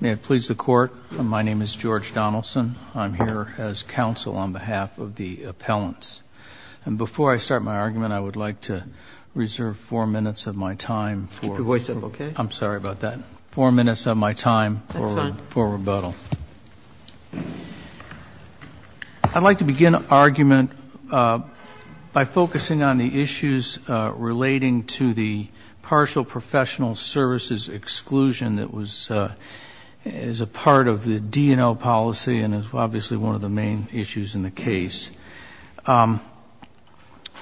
May it please the court my name is George Donaldson I'm here as counsel on behalf of the appellants and before I start my argument I would like to reserve four minutes of my time for voice of okay I'm sorry about that four minutes of my time for rebuttal I'd like to begin argument by focusing on the issues relating to the partial professional services exclusion that was as a part of the DNO policy and is obviously one of the main issues in the case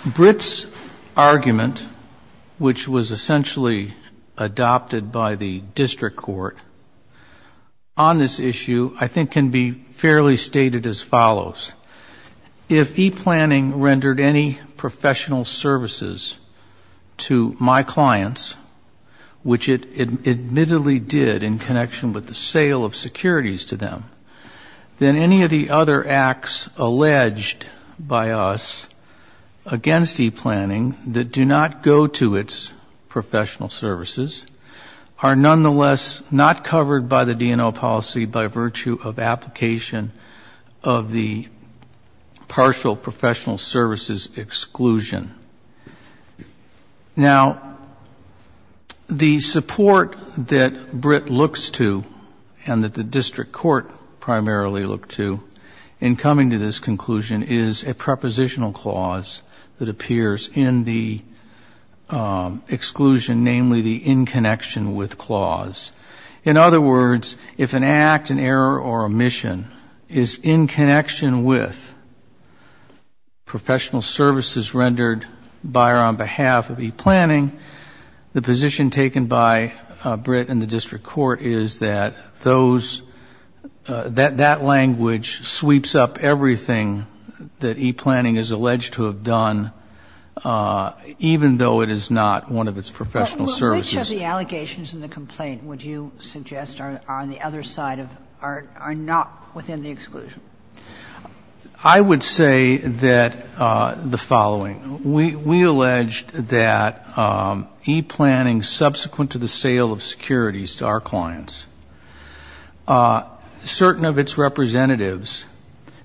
Brits argument which was essentially adopted by the district court on this issue I think can be fairly stated as follows if e-planning rendered any professional services to my clients which it admittedly did in connection with the sale of securities to them then any of the other acts alleged by us against e-planning that do not go to its professional services are nonetheless not covered by the DNO policy by virtue of application of the and that the district court primarily looked to in coming to this conclusion is a prepositional clause that appears in the exclusion namely the in connection with clause in other words if an act an error or omission is in connection with professional services rendered by or on behalf of e-planning the position taken by Brit and the district court is that those that that language sweeps up everything that e-planning is alleged to have done even though it is not one of its professional services the allegations in the complaint would you suggest are on the other side of art are not within the e-planning subsequent to the sale of securities to our clients certain of its representatives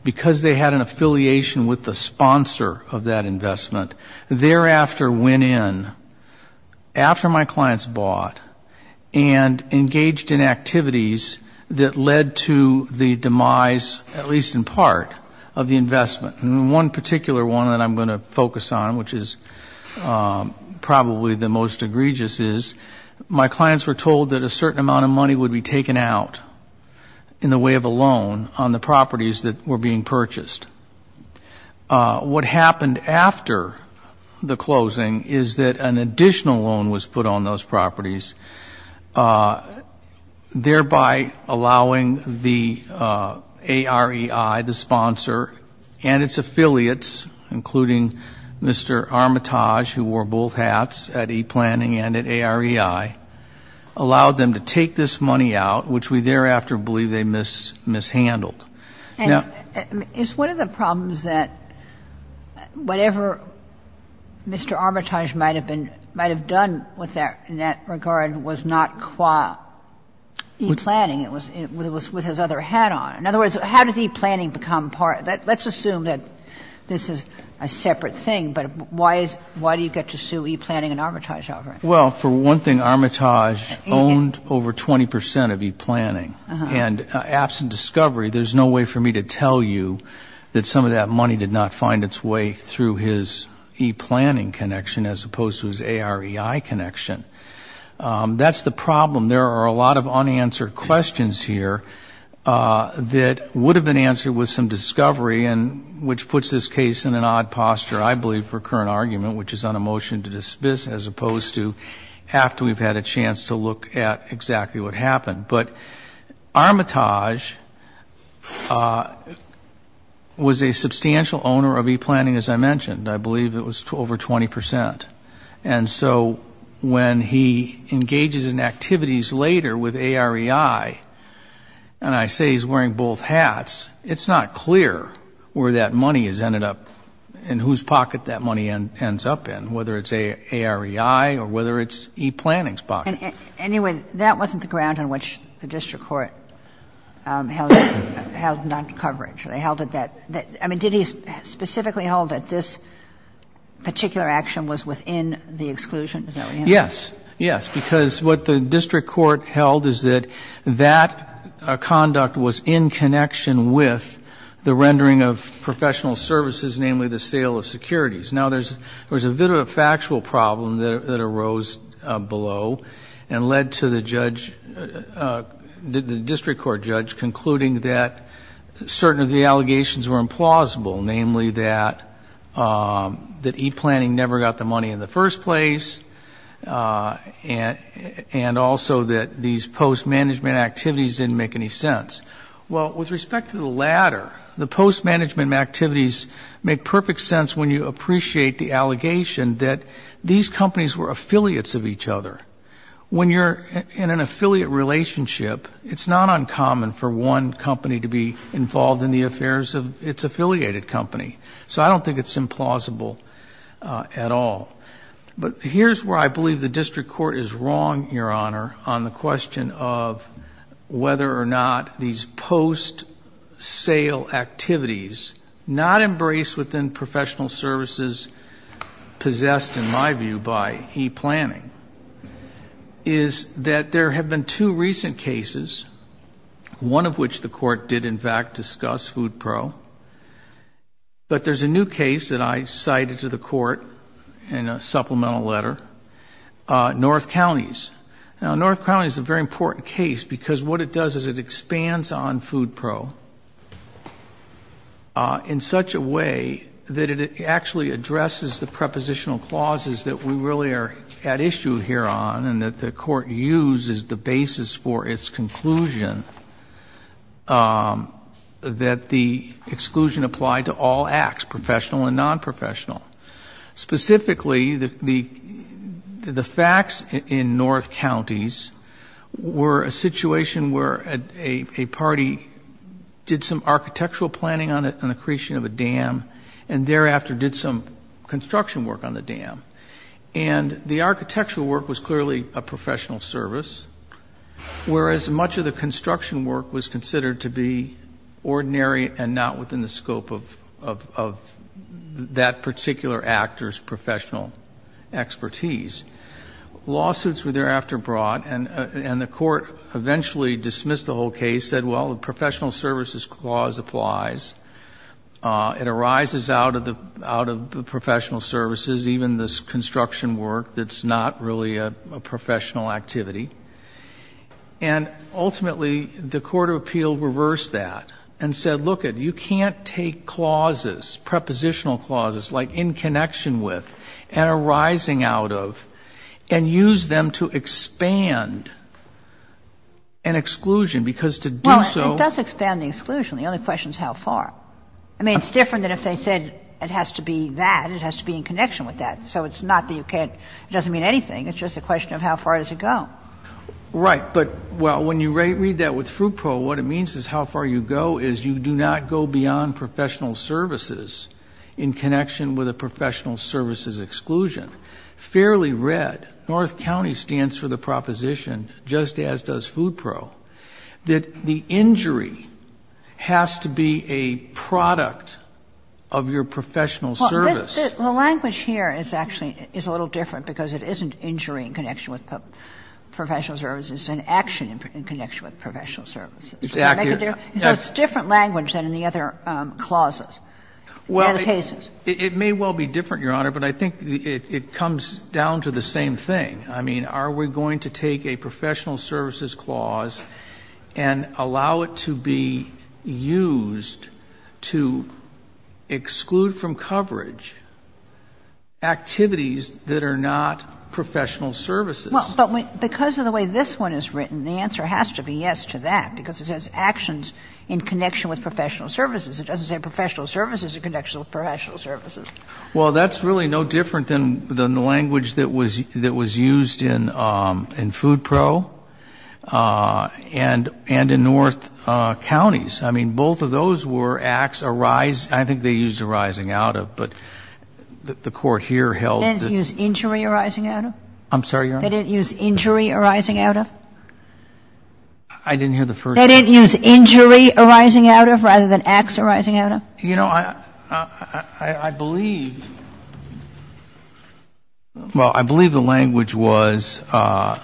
because they had an affiliation with the sponsor of that investment thereafter went in after my clients bought and engaged in activities that led to the demise at least in part of the investment and one particular one that I'm going to focus on which is probably the most egregious is my clients were told that a certain amount of money would be taken out in the way of a loan on the properties that were being purchased what happened after the closing is that an additional loan was put on those properties thereby allowing the AREI the sponsor and its affiliates including Mr. Armitage who wore both hats at e-planning and at AREI allowed them to take this money out which we thereafter believe they mishandled now it's one of the problems that whatever Mr. Armitage might have been might have done with that in that regard was not qua e-planning it was it was with his other hat on in other words how does e-planning become part let's assume that this is a separate thing but why is why do you get to sue e-planning and Armitage over it well for one thing Armitage owned over 20% of e-planning and absent discovery there's no way for me to tell you that some of that money did not find its way through his e-planning connection as opposed to his AREI connection that's the problem there are a lot of unanswered questions here that would have been answered with some discovery and which puts this case in an odd posture I believe for current argument which is on a motion to dismiss as opposed to after we've had a chance to look at exactly what happened but Armitage was a substantial owner of e-planning as I mentioned I believe it was over 20% and so when he engages in AREI and I say he's wearing both hats it's not clear where that money is ended up in whose pocket that money ends up in whether it's a AREI or whether it's e-planning's pocket anyway that wasn't the ground on which the district court held it held on to coverage they held it that I mean did he specifically hold that this particular action was within the exclusion yes yes because what the that conduct was in connection with the rendering of professional services namely the sale of securities now there's there's a bit of a factual problem that arose below and led to the judge the district court judge concluding that certain of the allegations were implausible namely that that e-planning never got the money in the first place and and also that these post-management activities didn't make any sense well with respect to the latter the post-management activities make perfect sense when you appreciate the allegation that these companies were affiliates of each other when you're in an affiliate relationship it's not uncommon for one company to be involved in the affairs of its affiliated company so I don't think it's implausible at all but here's where I believe the district court is wrong your honor on the question of whether or not these post-sale activities not embraced within professional services possessed in my view by e-planning is that there have been two recent cases one of which the court did in fact discuss food pro but there's a new case that I cited to the court in a supplemental letter North County's now North County is a very important case because what it does is it expands on food pro in such a way that it actually addresses the prepositional clauses that we really are at issue here on and that the court uses the basis for its conclusion that the exclusion applied to all acts professional and non-professional specifically the the facts in North County's were a situation where at a party did some architectural planning on it an accretion of a dam and thereafter did some construction work on the dam and the architectural work was clearly a professional service whereas much of the construction work was considered to be ordinary and not within the scope of that particular actors professional expertise lawsuits were thereafter brought and and the court eventually dismissed the whole case said well the professional services clause applies it arises out of the out of the professional services even this construction work that's not really a professional activity and ultimately the Court of Appeal reversed that and said look at you can't take clauses prepositional clauses like in connection with and arising out of and use them to expand an exclusion because to do so does expand the exclusion the only question is how far I mean it's different than if they said it has to be that it has to be in connection with that so it's not that you can't it doesn't mean anything it's just a question of how far does it go right but well when you read that with FUDPRO what it means is how far you go is you do not go beyond professional services in connection with a professional services exclusion fairly read North County stands for the proposition just as does FUDPRO that the injury has to be a product of your professional service the language here is actually is a little different because it isn't injuring connection with professional services it's an action in connection with professional services. So it's different language than in the other clauses, in the other cases. Well it may well be different your honor but I think it comes down to the same thing I mean are we going to take a professional services clause and allow it to be used to exclude from coverage activities that are not professional services. Well but because of the way this one is written the answer has to be yes to that because it has actions in connection with professional services it doesn't say professional services in connection with professional services. Well that's really no different than the language that was that was used in in FUDPRO and and in North Counties I mean both of those were acts arise I think they used arising out of but the court here held. That didn't use injury arising out of. I'm sorry your honor. They didn't use injury arising out of. I didn't hear the first. They didn't use injury arising out of rather than acts arising out of. You know I I believe well I believe the language was well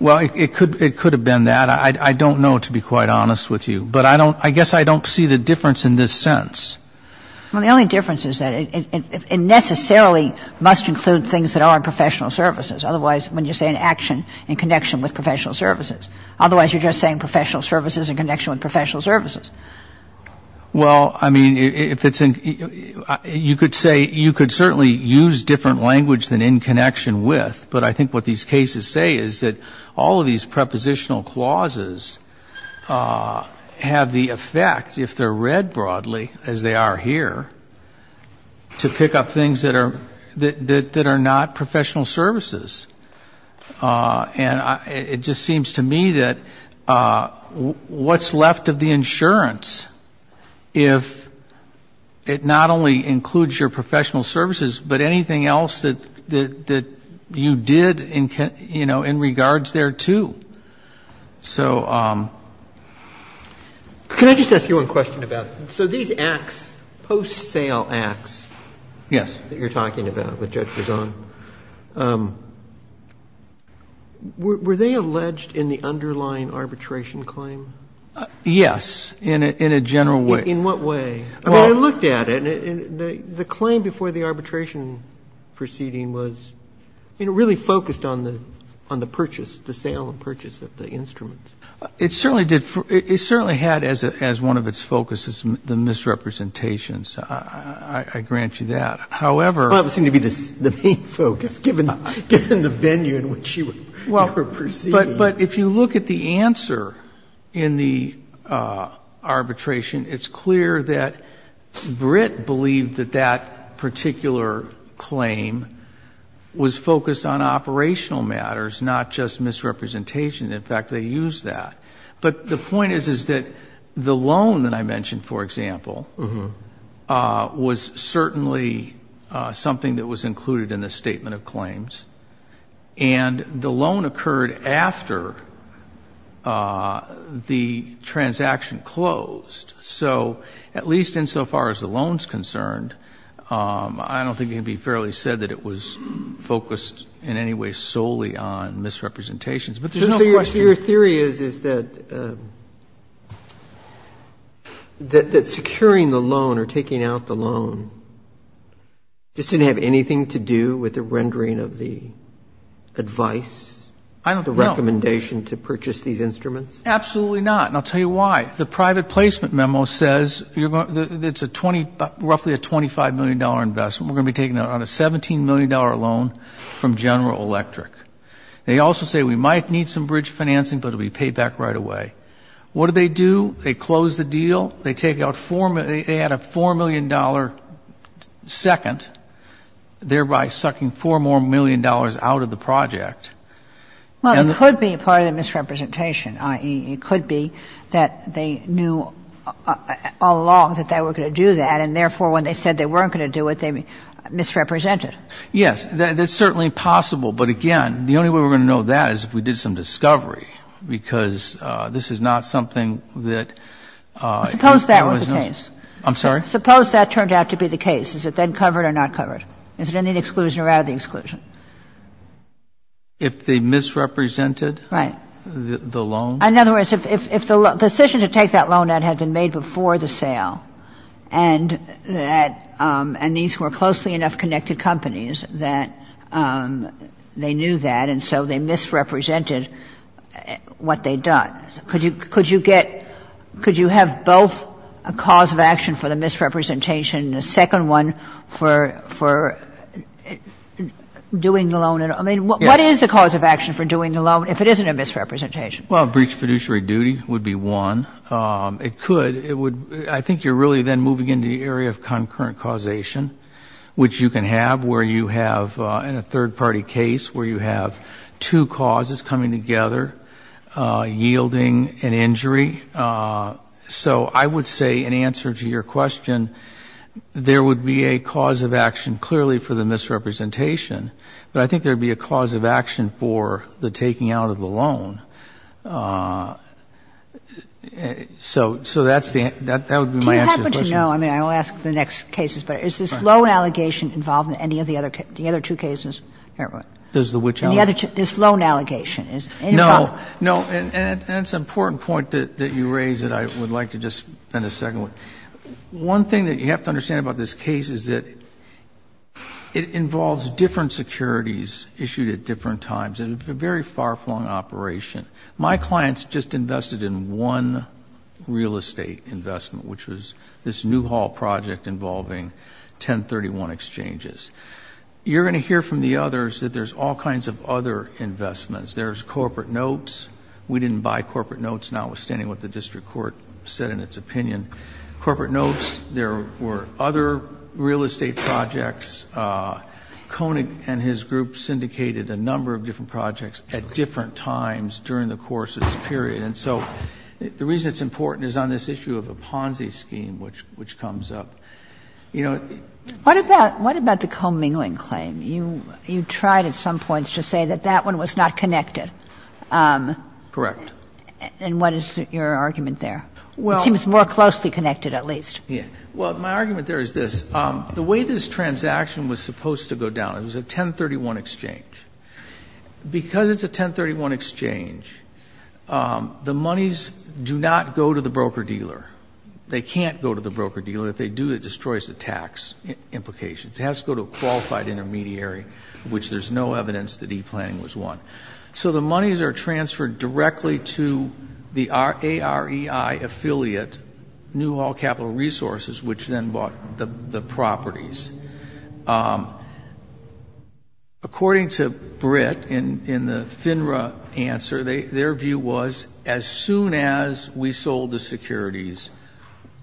it could it could have been that I don't know to be quite honest with you but I don't I guess I don't see the difference in this sense. Well the only difference is that it necessarily must include things that are professional services otherwise when you say an action in connection with professional services otherwise you're just saying professional services in connection with professional services. Well I mean if it's in you could say you could certainly use different language than in connection with but I think what these cases say is that all of these are here to pick up things that are that are not professional services and it just seems to me that what's left of the insurance if it not only includes your professional services but anything else that that you did in you know in regards there too. So can I just ask you one question about. So these acts post sale acts. Yes. That you're talking about with Judge Razon. Were they alleged in the underlying arbitration claim? Yes in a in a general way. In what way? I mean I looked at it and the claim before the arbitration proceeding was you know really focused on the on the purchase the sale and purchase of the instrument. It certainly did it certainly had as it as one of its focuses the misrepresentations. I grant you that. However. Well that would seem to be the main focus given the venue in which you were proceeding. Well but if you look at the answer in the arbitration it's clear that Britt believed that that particular claim was focused on operational matters not just misrepresentation. In fact they use that. But the point is is that the loan that I mentioned for example was certainly something that was included in the statement of claims and the loan occurred after the transaction closed. So at least insofar as the loans concerned I don't think it'd be fairly said that it was focused in any way solely on misrepresentations. So your theory is is that that securing the loan or taking out the loan just didn't have anything to do with the rendering of the advice. I don't know. The recommendation to purchase these instruments. Absolutely not. And I'll tell you why. The private placement memo says it's a 20 roughly a $25 million investment. We're going to be taking out on a $17 million loan from General Electric. They also say we might need some bridge financing but it'll be paid back right away. What do they do? They close the deal. They take out four they add a $4 million second thereby sucking four more million dollars out of the project. Well it could be part of the misrepresentation i.e. it could be that they knew all along that they were going to do that and therefore when they said they weren't going to do it they misrepresented. Yes. That's certainly possible but again the only way we're going to know that is if we did some discovery because this is not something that. Suppose that was the case. I'm sorry. Suppose that turned out to be the case. Is it then covered or not covered? Is there any exclusion or out of the exclusion? If they misrepresented. Right. The loan. In other words if the decision to take that loan out had been made before the sale and that and these were closely enough connected companies that they knew that and so they misrepresented what they'd done. Could you have both a cause of action for the misrepresentation and a second one for doing the loan. I mean what is the cause of action for doing the loan if it isn't a misrepresentation? Well breach of fiduciary duty would be one. It could. I think you're really then moving into the area of concurrent causation which you can have where you have in a third party case where you have two causes coming together yielding an injury. So I would say in answer to your question there would be a cause of action clearly for the misrepresentation but I think there'd be a cause of action for the taking out of the loan. So that's the answer. Do you happen to know, I mean I will ask the next cases, but is this loan allegation involved in any of the other two cases? Does the which? This loan allegation. No, no and it's an important point that you raise that I would like to just in a second. One thing that you have to understand about this case is that it involves different securities issued at different times and it's a very far flung operation. My clients just invested in one real estate investment which was this Newhall project involving 1031 exchanges. You're going to hear from the others that there's all kinds of other investments. There's corporate notes. We didn't buy corporate notes notwithstanding what the district court said in its opinion. Corporate notes, there were other real estate projects. Koenig and his group syndicated a number of different projects at different times during the course of this period. And so the reason it's important is on this issue of a Ponzi scheme which comes up. What about the co-mingling claim? You tried at some points to say that that one was not connected. Correct. And what is your argument there? It seems more closely connected at least. Well, my argument there is this. The way this transaction was supposed to go down, it was a 1031 exchange. Because it's a 1031 exchange, the monies do not go to the broker-dealer. They can't go to the broker-dealer. If they do, it destroys the tax implications. It has to go to a qualified intermediary which there's no evidence that e-planning was one. So the monies are transferred directly to the AREI affiliate Newhall Capital Resources which then bought the properties. According to Britt in the FINRA answer, their view was as soon as we sold the securities,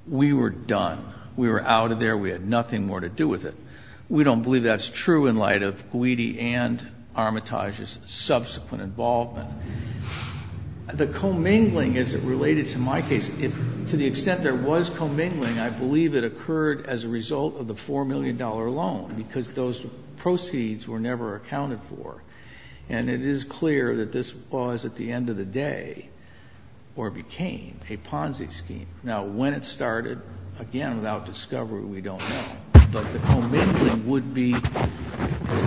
we were done. We were out of there. We had nothing more to do with it. We don't believe that's true in light of Guidi and Armitage's subsequent involvement. The co-mingling as it related to my case, to the extent there was co-mingling, I believe it occurred as a result of the $4 million loan because those proceeds were never accounted for. And it is clear that this was, at the end of the day, or became, a Ponzi scheme. Now, when it started, again, without discovery, we don't know. But the co-mingling would be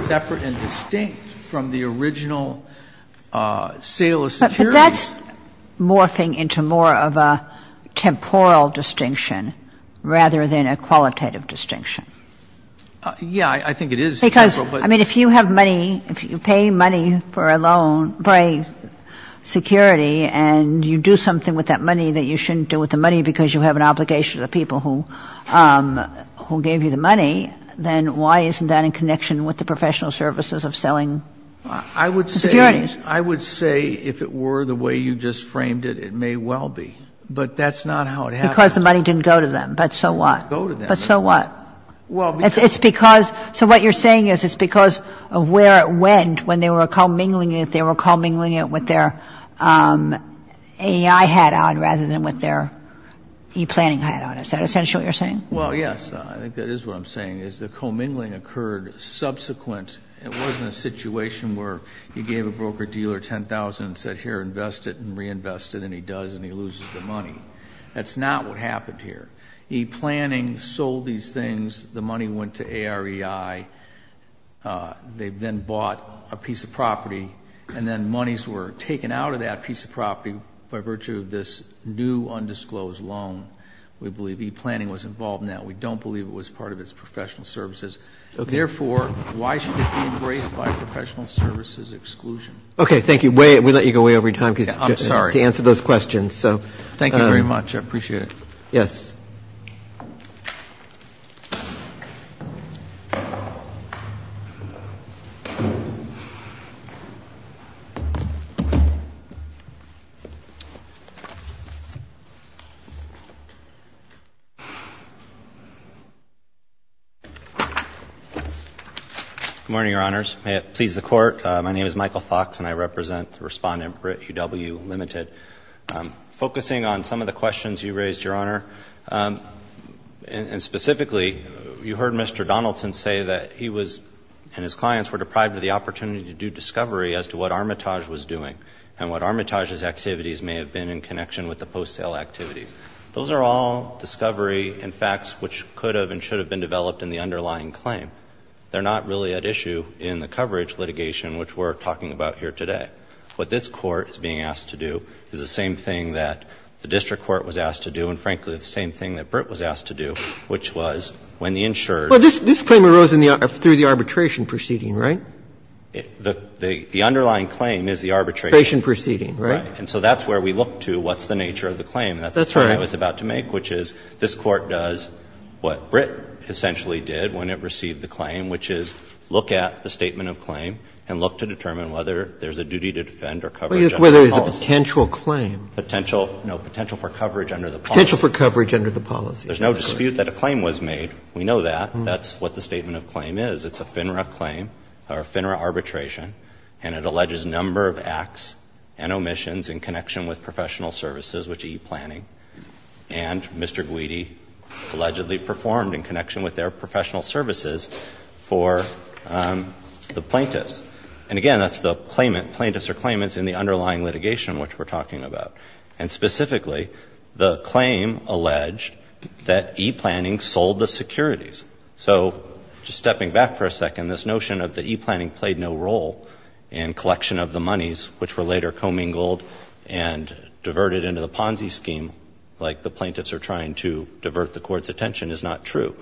separate and distinct from the original sale of securities. But that's morphing into more of a temporal distinction rather than a qualitative distinction. Yeah, I think it is temporal, but — Because, I mean, if you have money, if you pay money for a loan, for a security, and you do something with that money that you shouldn't do with the money because you have an obligation to the people who gave you the money, then why isn't that in connection with the professional services of selling the securities? I would say if it were the way you just framed it, it may well be. But that's not how it happened. Because the money didn't go to them, but so what? It didn't go to them. But so what? Well, because — It's because — so what you're saying is it's because of where it went when they were co-mingling it, they were co-mingling it with their AI hat on rather than with their e-planning hat on. Is that essentially what you're saying? Well, yes, I think that is what I'm saying, is the co-mingling occurred subsequent It wasn't a situation where you gave a broker-dealer $10,000 and said, here, invest it and reinvest it, and he does, and he loses the money. That's not what happened here. E-planning sold these things. The money went to AREI. They then bought a piece of property, and then monies were taken out of that piece of property by virtue of this new, undisclosed loan. We believe e-planning was involved in that. We don't believe it was part of its professional services. Therefore, why should it be embraced by professional services exclusion? Okay, thank you. We let you go away over your time to answer those questions. Thank you very much. I appreciate it. Yes. Good morning, Your Honors. May it please the Court. My name is Michael Fox, and I represent the Respondent for UW-Limited. Focusing on some of the questions you raised, Your Honor, and specifically, you heard Mr. Donaldson say that he was and his clients were deprived of the opportunity to do discovery as to what Armitage was doing and what Armitage's activities may have been in connection with the post-sale activities. Those are all discovery and facts which could have and should have been developed in the underlying claim. They're not really at issue in the coverage litigation, which we're talking about here today. What this Court is being asked to do is the same thing that the district court was asked to do and, frankly, the same thing that Britt was asked to do, which was when the insurer's ---- Well, this claim arose through the arbitration proceeding, right? The underlying claim is the arbitration. Arbitration proceeding, right? Right. And so that's where we look to what's the nature of the claim. That's the term I was about to make, which is this Court does what Britt essentially did when it received the claim, which is look at the statement of claim and look to determine whether there's a duty to defend or cover general policies. Whether there's a potential claim. Potential, no, potential for coverage under the policy. Potential for coverage under the policy. There's no dispute that a claim was made. We know that. That's what the statement of claim is. It's a FINRA claim or a FINRA arbitration, and it alleges number of acts and omissions in connection with professional services, which is e-planning. And Mr. Guidi allegedly performed in connection with their professional services for the plaintiffs. And again, that's the claimant, plaintiffs or claimants in the underlying litigation which we're talking about. And specifically, the claim alleged that e-planning sold the securities. So just stepping back for a second, this notion of the e-planning played no role in collection of the monies, which were later commingled and diverted into the Ponzi scheme like the plaintiffs are trying to divert the Court's attention is not true.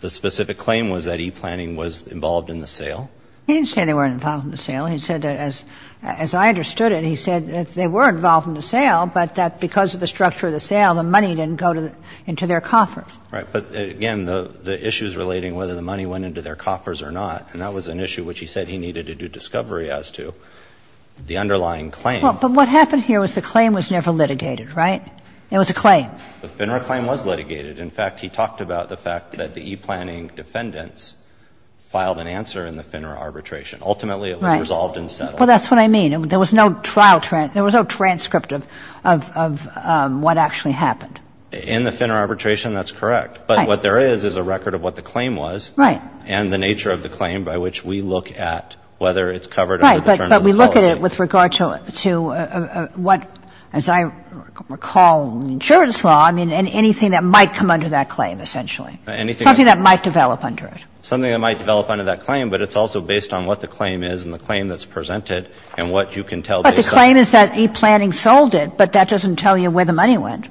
The specific claim was that e-planning was involved in the sale. He didn't say they weren't involved in the sale. He said, as I understood it, he said that they were involved in the sale, but that because of the structure of the sale, the money didn't go into their coffers. Right. But again, the issue is relating whether the money went into their coffers or not. And that was an issue which he said he needed to do discovery as to the underlying claim. Well, but what happened here was the claim was never litigated, right? It was a claim. The FINRA claim was litigated. In fact, he talked about the fact that the e-planning defendants filed an answer in the FINRA arbitration. Ultimately, it was resolved and settled. Well, that's what I mean. There was no trial transcript. There was no transcript of what actually happened. In the FINRA arbitration, that's correct. Right. But what there is is a record of what the claim was. Right. And the nature of the claim by which we look at whether it's covered under the terms of the policy. But with regard to what, as I recall, insurance law, I mean, anything that might come under that claim essentially. Anything that might develop under it. Something that might develop under that claim, but it's also based on what the claim is and the claim that's presented and what you can tell based on. But the claim is that e-planning sold it, but that doesn't tell you where the money went.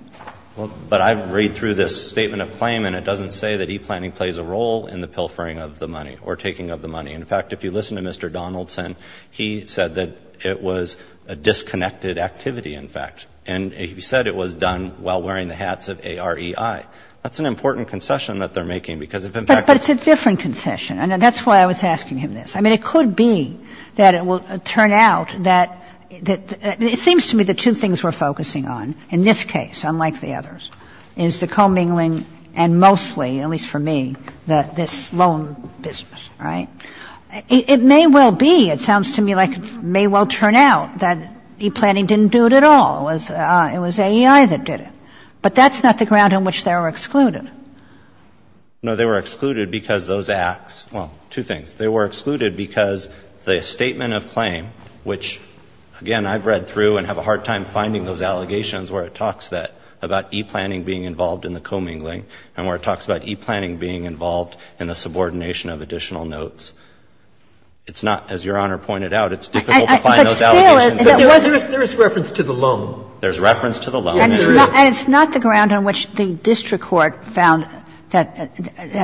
Well, but I read through this statement of claim, and it doesn't say that e-planning plays a role in the pilfering of the money or taking of the money. In fact, if you listen to Mr. Donaldson, he said that it was a disconnected activity, in fact. And he said it was done while wearing the hats of A-R-E-I. That's an important concession that they're making because, in fact, it's a different concession. And that's why I was asking him this. I mean, it could be that it will turn out that it seems to me the two things we're focusing on in this case, unlike the others, is the commingling and mostly, at least for me, this loan business. Right? It may well be, it sounds to me like it may well turn out that e-planning didn't do it at all. It was A-E-I that did it. But that's not the ground on which they were excluded. No, they were excluded because those acts, well, two things. They were excluded because the statement of claim, which, again, I've read through and have a hard time finding those allegations where it talks about e-planning being involved in the commingling and where it talks about e-planning being involved in the subordination of additional notes. It's not, as Your Honor pointed out, it's difficult to find those allegations. But still, it's not. There is reference to the loan. There's reference to the loan. Yes, there is. And it's not the ground on which the district court found that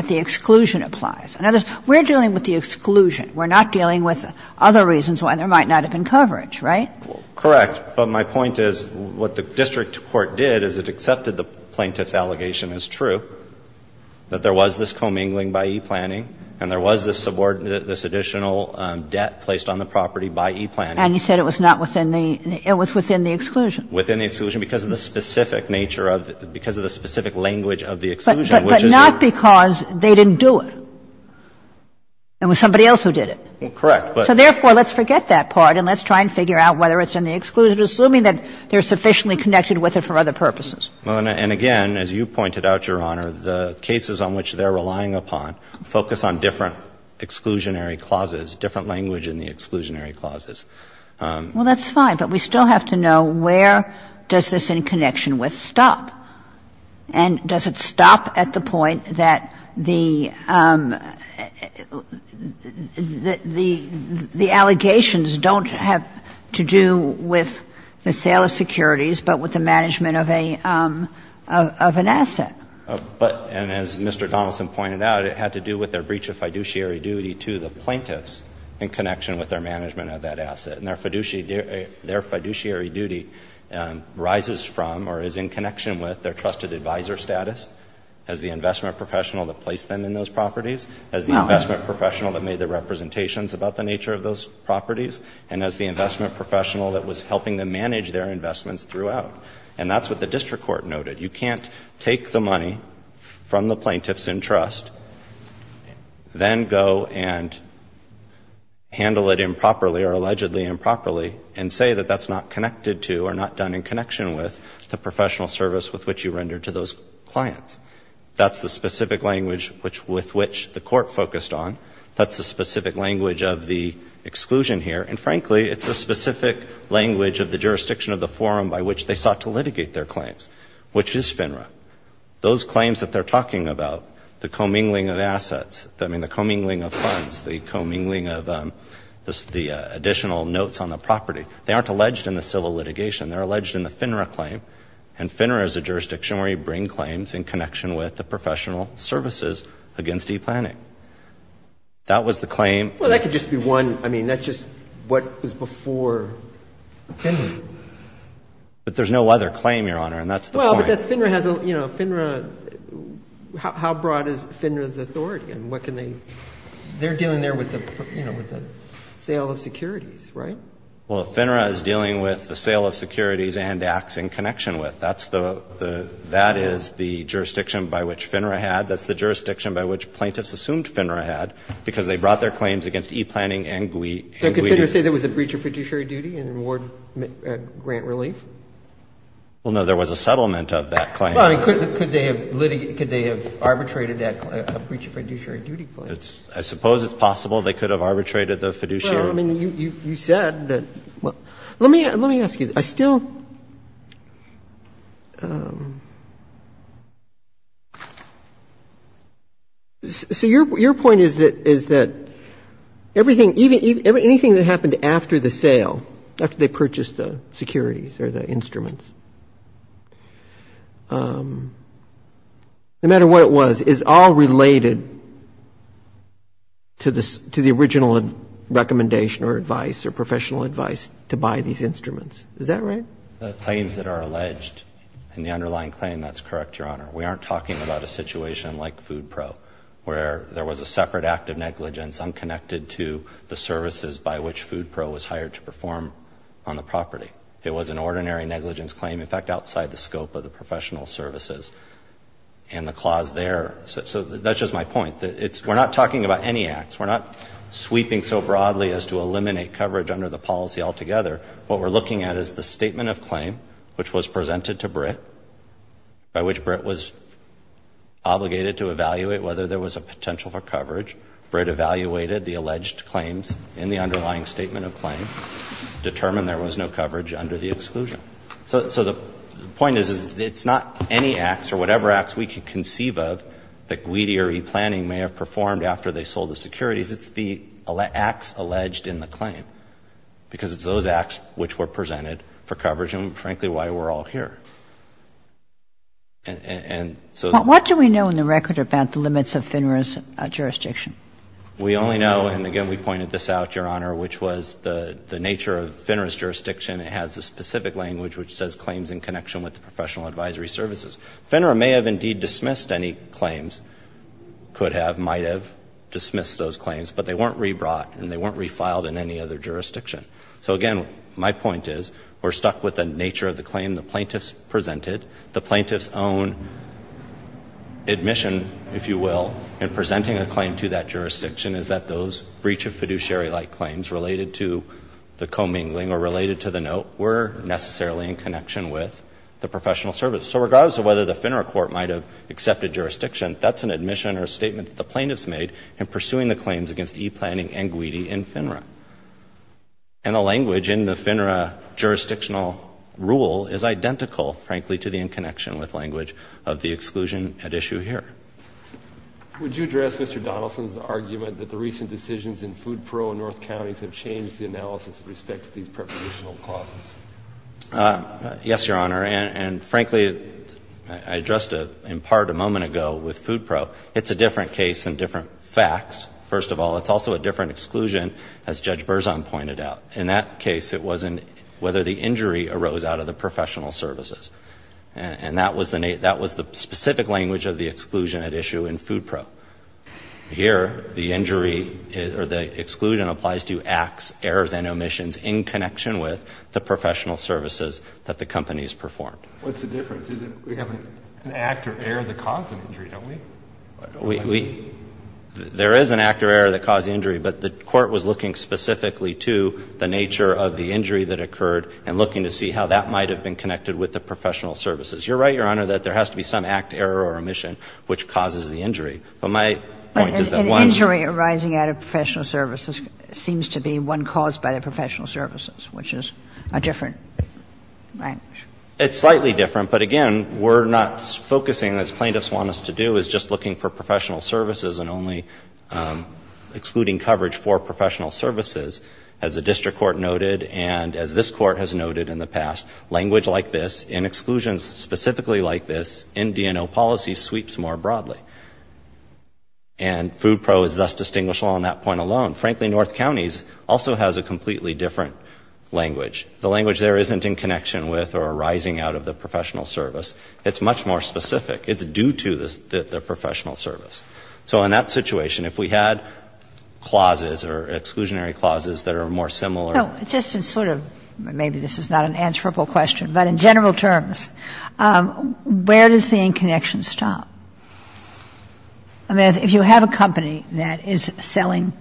the exclusion applies. We're dealing with the exclusion. We're not dealing with other reasons why there might not have been coverage. Correct. But my point is what the district court did is it accepted the plaintiff's allegation is true, that there was this commingling by e-planning and there was this additional debt placed on the property by e-planning. And you said it was not within the — it was within the exclusion. Within the exclusion because of the specific nature of the — because of the specific language of the exclusion, which is the— But not because they didn't do it. It was somebody else who did it. Correct. So therefore, let's forget that part and let's try and figure out whether it's in the exclusion, assuming that they're sufficiently connected with it for other purposes. Well, and again, as you pointed out, Your Honor, the cases on which they're relying upon focus on different exclusionary clauses, different language in the exclusionary clauses. Well, that's fine. But we still have to know where does this in connection with stop? And does it stop at the point that the — the allegations don't have to do with the management of a — of an asset? But — and as Mr. Donaldson pointed out, it had to do with their breach of fiduciary duty to the plaintiffs in connection with their management of that asset. And their fiduciary duty rises from or is in connection with their trusted advisor status as the investment professional that placed them in those properties, as the investment professional that made the representations about the nature of those investments throughout. And that's what the district court noted. You can't take the money from the plaintiffs in trust, then go and handle it improperly or allegedly improperly and say that that's not connected to or not done in connection with the professional service with which you rendered to those clients. That's the specific language with which the court focused on. That's the specific language of the exclusion here. And frankly, it's a specific language of the jurisdiction of the forum by which they sought to litigate their claims, which is FINRA. Those claims that they're talking about, the commingling of assets, I mean, the commingling of funds, the commingling of the additional notes on the property, they aren't alleged in the civil litigation. They're alleged in the FINRA claim. And FINRA is a jurisdiction where you bring claims in connection with the professional services against e-planning. That was the claim. Well, that could just be one. I mean, that's just what was before FINRA. But there's no other claim, Your Honor, and that's the point. Well, but FINRA has a, you know, FINRA. How broad is FINRA's authority and what can they do? They're dealing there with the sale of securities, right? Well, FINRA is dealing with the sale of securities and acts in connection with. That is the jurisdiction by which FINRA had. That's the jurisdiction by which plaintiffs assumed FINRA had because they brought their claims against e-planning and GUI. Did FINRA say there was a breach of fiduciary duty in award grant relief? Well, no. There was a settlement of that claim. Could they have arbitrated that breach of fiduciary duty claim? I suppose it's possible they could have arbitrated the fiduciary. Well, I mean, you said that. Let me ask you. I still ‑‑ so your point is that anything that happened after the sale, after they purchased the securities or the instruments, no matter what it was, is all related to the original recommendation or advice or professional advice to buy these instruments. Is that right? The claims that are alleged in the underlying claim, that's correct, Your Honor. We aren't talking about a situation like Food Pro where there was a separate act of negligence unconnected to the services by which Food Pro was hired to perform on the property. It was an ordinary negligence claim, in fact, outside the scope of the professional services. And the clause there, so that's just my point. We're not talking about any acts. We're not sweeping so broadly as to eliminate coverage under the policy altogether. What we're looking at is the statement of claim, which was presented to Britt, by which Britt was obligated to evaluate whether there was a potential for coverage. Britt evaluated the alleged claims in the underlying statement of claim, determined there was no coverage under the exclusion. So the point is, it's not any acts or whatever acts we can conceive of that Guidi or E-Planning may have performed after they sold the securities. It's the acts alleged in the claim, because it's those acts which were presented for coverage and, frankly, why we're all here. And so the ---- What do we know in the record about the limits of FINRA's jurisdiction? We only know, and again, we pointed this out, Your Honor, which was the nature of FINRA's jurisdiction. It has a specific language which says claims in connection with the professional advisory services. FINRA may have indeed dismissed any claims, could have, might have dismissed those claims, but they weren't rebrought and they weren't refiled in any other jurisdiction. So, again, my point is we're stuck with the nature of the claim the plaintiffs presented. The plaintiffs' own admission, if you will, in presenting a claim to that jurisdiction is that those breach of fiduciary-like claims related to the commingling or related to the note were necessarily in connection with the professional service. So regardless of whether the FINRA court might have accepted jurisdiction, that's an admission or a statement that the plaintiffs made in pursuing the claims against e-planning and GWEDI in FINRA. And the language in the FINRA jurisdictional rule is identical, frankly, to the in-connection-with language of the exclusion at issue here. Would you address Mr. Donaldson's argument that the recent decisions in food pro and north counties have changed the analysis with respect to these prepositional clauses? Yes, Your Honor. And, frankly, I addressed it in part a moment ago with food pro. It's a different case and different facts, first of all. It's also a different exclusion, as Judge Berzon pointed out. In that case, it wasn't whether the injury arose out of the professional services. And that was the specific language of the exclusion at issue in food pro. Here, the injury or the exclusion applies to acts, errors, and omissions in connection with the professional services that the companies performed. What's the difference? We have an act or error that caused the injury, don't we? There is an act or error that caused the injury. But the court was looking specifically to the nature of the injury that occurred and looking to see how that might have been connected with the professional services. You're right, Your Honor, that there has to be some act, error, or omission which causes the injury. But my point is that one... But an injury arising out of professional services seems to be one caused by the professional services, which is a different language. It's slightly different. But, again, we're not focusing, as plaintiffs want us to do, is just looking for professional services and only excluding coverage for professional services, as the district court noted and as this court has noted in the past. Language like this, in exclusions specifically like this, in D&O policy, sweeps more broadly. And FoodPro is thus distinguished on that point alone. Frankly, North Counties also has a completely different language. The language there isn't in connection with or arising out of the professional service. It's much more specific. It's due to the professional service. So in that situation, if we had clauses or exclusionary clauses that are more similar... Kagan. Just to sort of, maybe this is not an answerable question, but in general terms, where does the in-connection stop? I mean, if you have a company that is selling,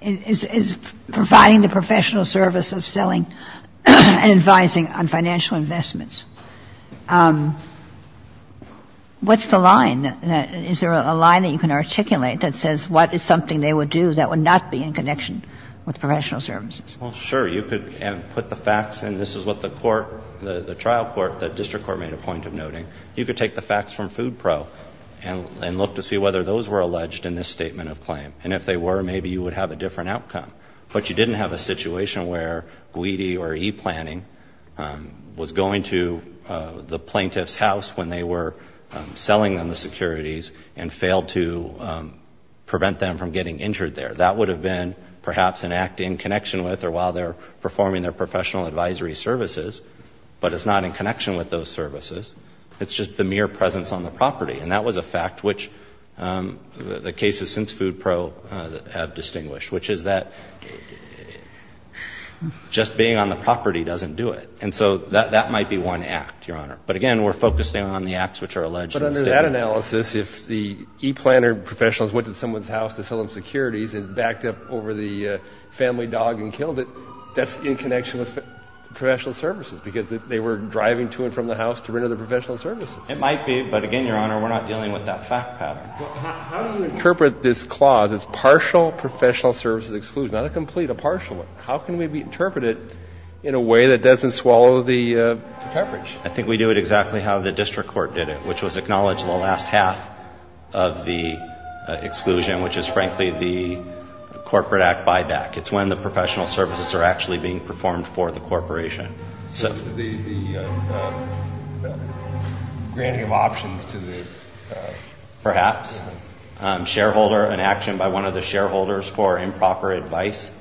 is providing the professional service of selling and advising on financial investments, what's the line? Is there a line that you can articulate that says what is something they would do that would not be in connection with professional services? Well, sure. You could put the facts in. This is what the court, the trial court, the district court made a point of noting. You could take the facts from FoodPro and look to see whether those were alleged in this statement of claim. And if they were, maybe you would have a different outcome. But you didn't have a situation where Guidi or e-planning was going to the plaintiff's house when they were selling them the securities and failed to prevent them from getting injured there. That would have been perhaps an act in connection with or while they're performing their professional advisory services, but it's not in connection with those services. It's just the mere presence on the property. And that was a fact which the cases since FoodPro have distinguished, which is that just being on the property doesn't do it. And so that might be one act, Your Honor. But again, we're focusing on the acts which are alleged in the statement. But in that analysis, if the e-planner professionals went to someone's house to sell them securities and backed up over the family dog and killed it, that's in connection with professional services, because they were driving to and from the house to render the professional services. It might be. But again, Your Honor, we're not dealing with that fact pattern. How do you interpret this clause as partial professional services exclusion, not a complete, a partial one? How can we interpret it in a way that doesn't swallow the coverage? I think we do it exactly how the district court did it, which was acknowledge the last half of the exclusion, which is frankly the corporate act buyback. It's when the professional services are actually being performed for the corporation. So the granting of options to the... Perhaps. Shareholder, an action by one of the shareholders for improper advice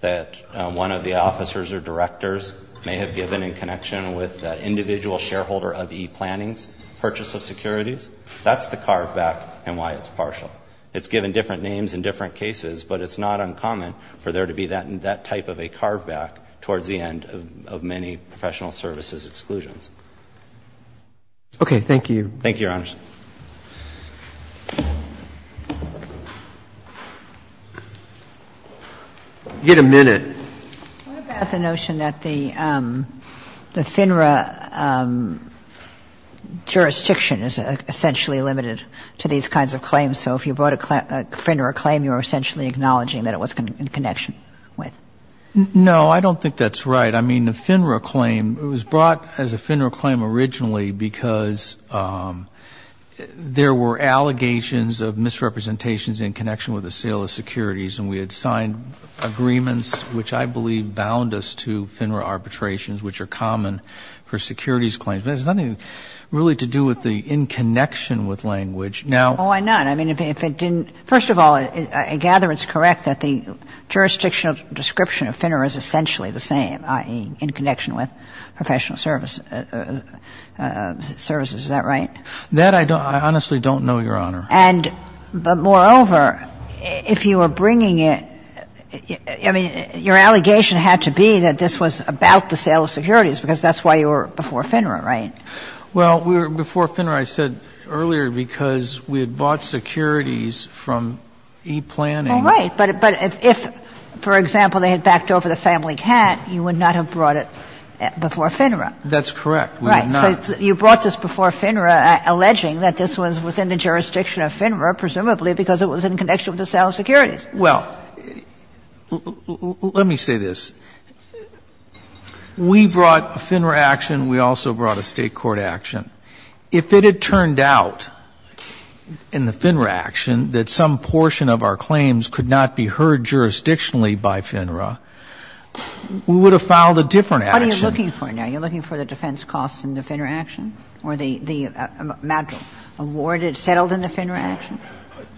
that one of the officers or directors may have given in connection with that individual shareholder of e-plannings purchase of securities, that's the carveback and why it's partial. It's given different names in different cases, but it's not uncommon for there to be that type of a carveback towards the end of many professional services exclusions. Okay. Thank you. Thank you, Your Honors. You get a minute. What about the notion that the FINRA jurisdiction is essentially limited to these kinds of claims? So if you brought a FINRA claim, you're essentially acknowledging that it was in connection with? No, I don't think that's right. I mean, the FINRA claim, it was brought as a FINRA claim originally because there were allegations of misrepresentations in connection with the sale of securities and we had signed agreements, which I believe bound us to FINRA arbitrations, which are common for securities claims. But it has nothing really to do with the in connection with language. Now... Why not? I mean, if it didn't... First of all, I gather it's correct that the jurisdictional description of FINRA is essentially the same, i.e., in connection with professional services. Is that right? That I honestly don't know, Your Honor. And moreover, if you were bringing it, I mean, your allegation had to be that this was about the sale of securities because that's why you were before FINRA, right? Well, before FINRA, I said earlier because we had bought securities from e-planning. All right. But if, for example, they had backed over the family cat, you would not have brought it before FINRA. That's correct. We would not. You brought this before FINRA, alleging that this was within the jurisdiction of FINRA, presumably because it was in connection with the sale of securities. Well, let me say this. We brought a FINRA action. We also brought a State court action. If it had turned out in the FINRA action that some portion of our claims could not be heard jurisdictionally by FINRA, we would have filed a different action. What are you looking for now? You're looking for the defense costs in the FINRA action? Or the amount awarded, settled in the FINRA action?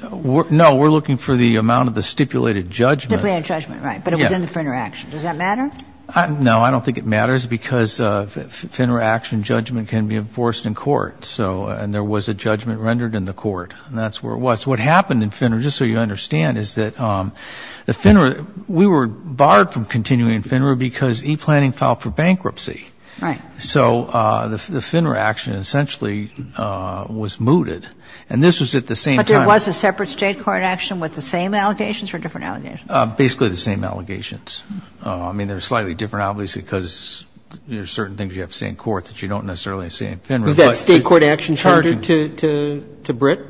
No. We're looking for the amount of the stipulated judgment. Stipulated judgment, right. But it was in the FINRA action. Does that matter? No. I don't think it matters because FINRA action judgment can be enforced in court. So and there was a judgment rendered in the court. And that's where it was. What happened in FINRA, just so you understand, is that the FINRA we were barred from continuing in FINRA because e-planning filed for bankruptcy. Right. So the FINRA action essentially was mooted. And this was at the same time. But there was a separate State court action with the same allegations or different allegations? Basically the same allegations. I mean, they're slightly different, obviously, because there's certain things you have to say in court that you don't necessarily say in FINRA. Was that State court action tendered to Britt?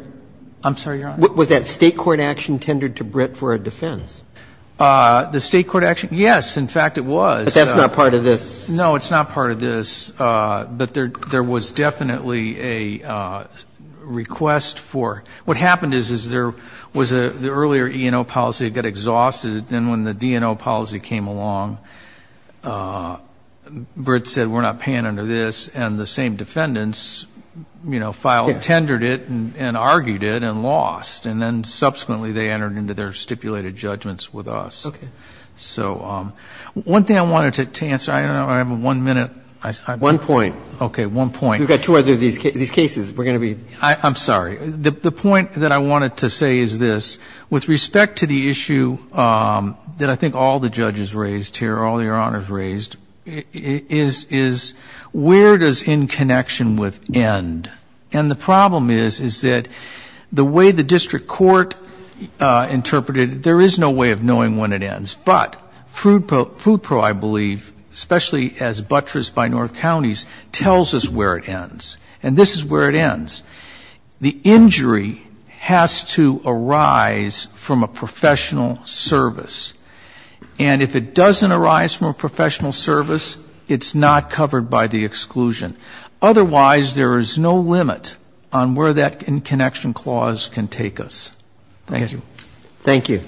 I'm sorry, Your Honor? Was that State court action tendered to Britt for a defense? The State court action? Yes. In fact, it was. But that's not part of this. No, it's not part of this. But there was definitely a request for. What happened is there was the earlier E&O policy got exhausted. And when the D&O policy came along, Britt said we're not paying under this. And the same defendants, you know, filed, tendered it and argued it and lost. And then subsequently they entered into their stipulated judgments with us. Okay. So one thing I wanted to answer. I don't know. I have one minute. One point. Okay. One point. We've got two of these cases. We're going to be. I'm sorry. The point that I wanted to say is this. With respect to the issue that I think all the judges raised here, all Your Honors raised, is where does in connection with end? And the problem is, is that the way the district court interpreted it, there is no way of knowing when it ends. But food pro, I believe, especially as buttressed by north counties, tells us where it ends. And this is where it ends. The injury has to arise from a professional service. And if it doesn't arise from a professional service, it's not covered by the exclusion. Otherwise, there is no limit on where that in connection clause can take us. Thank you. Thank you.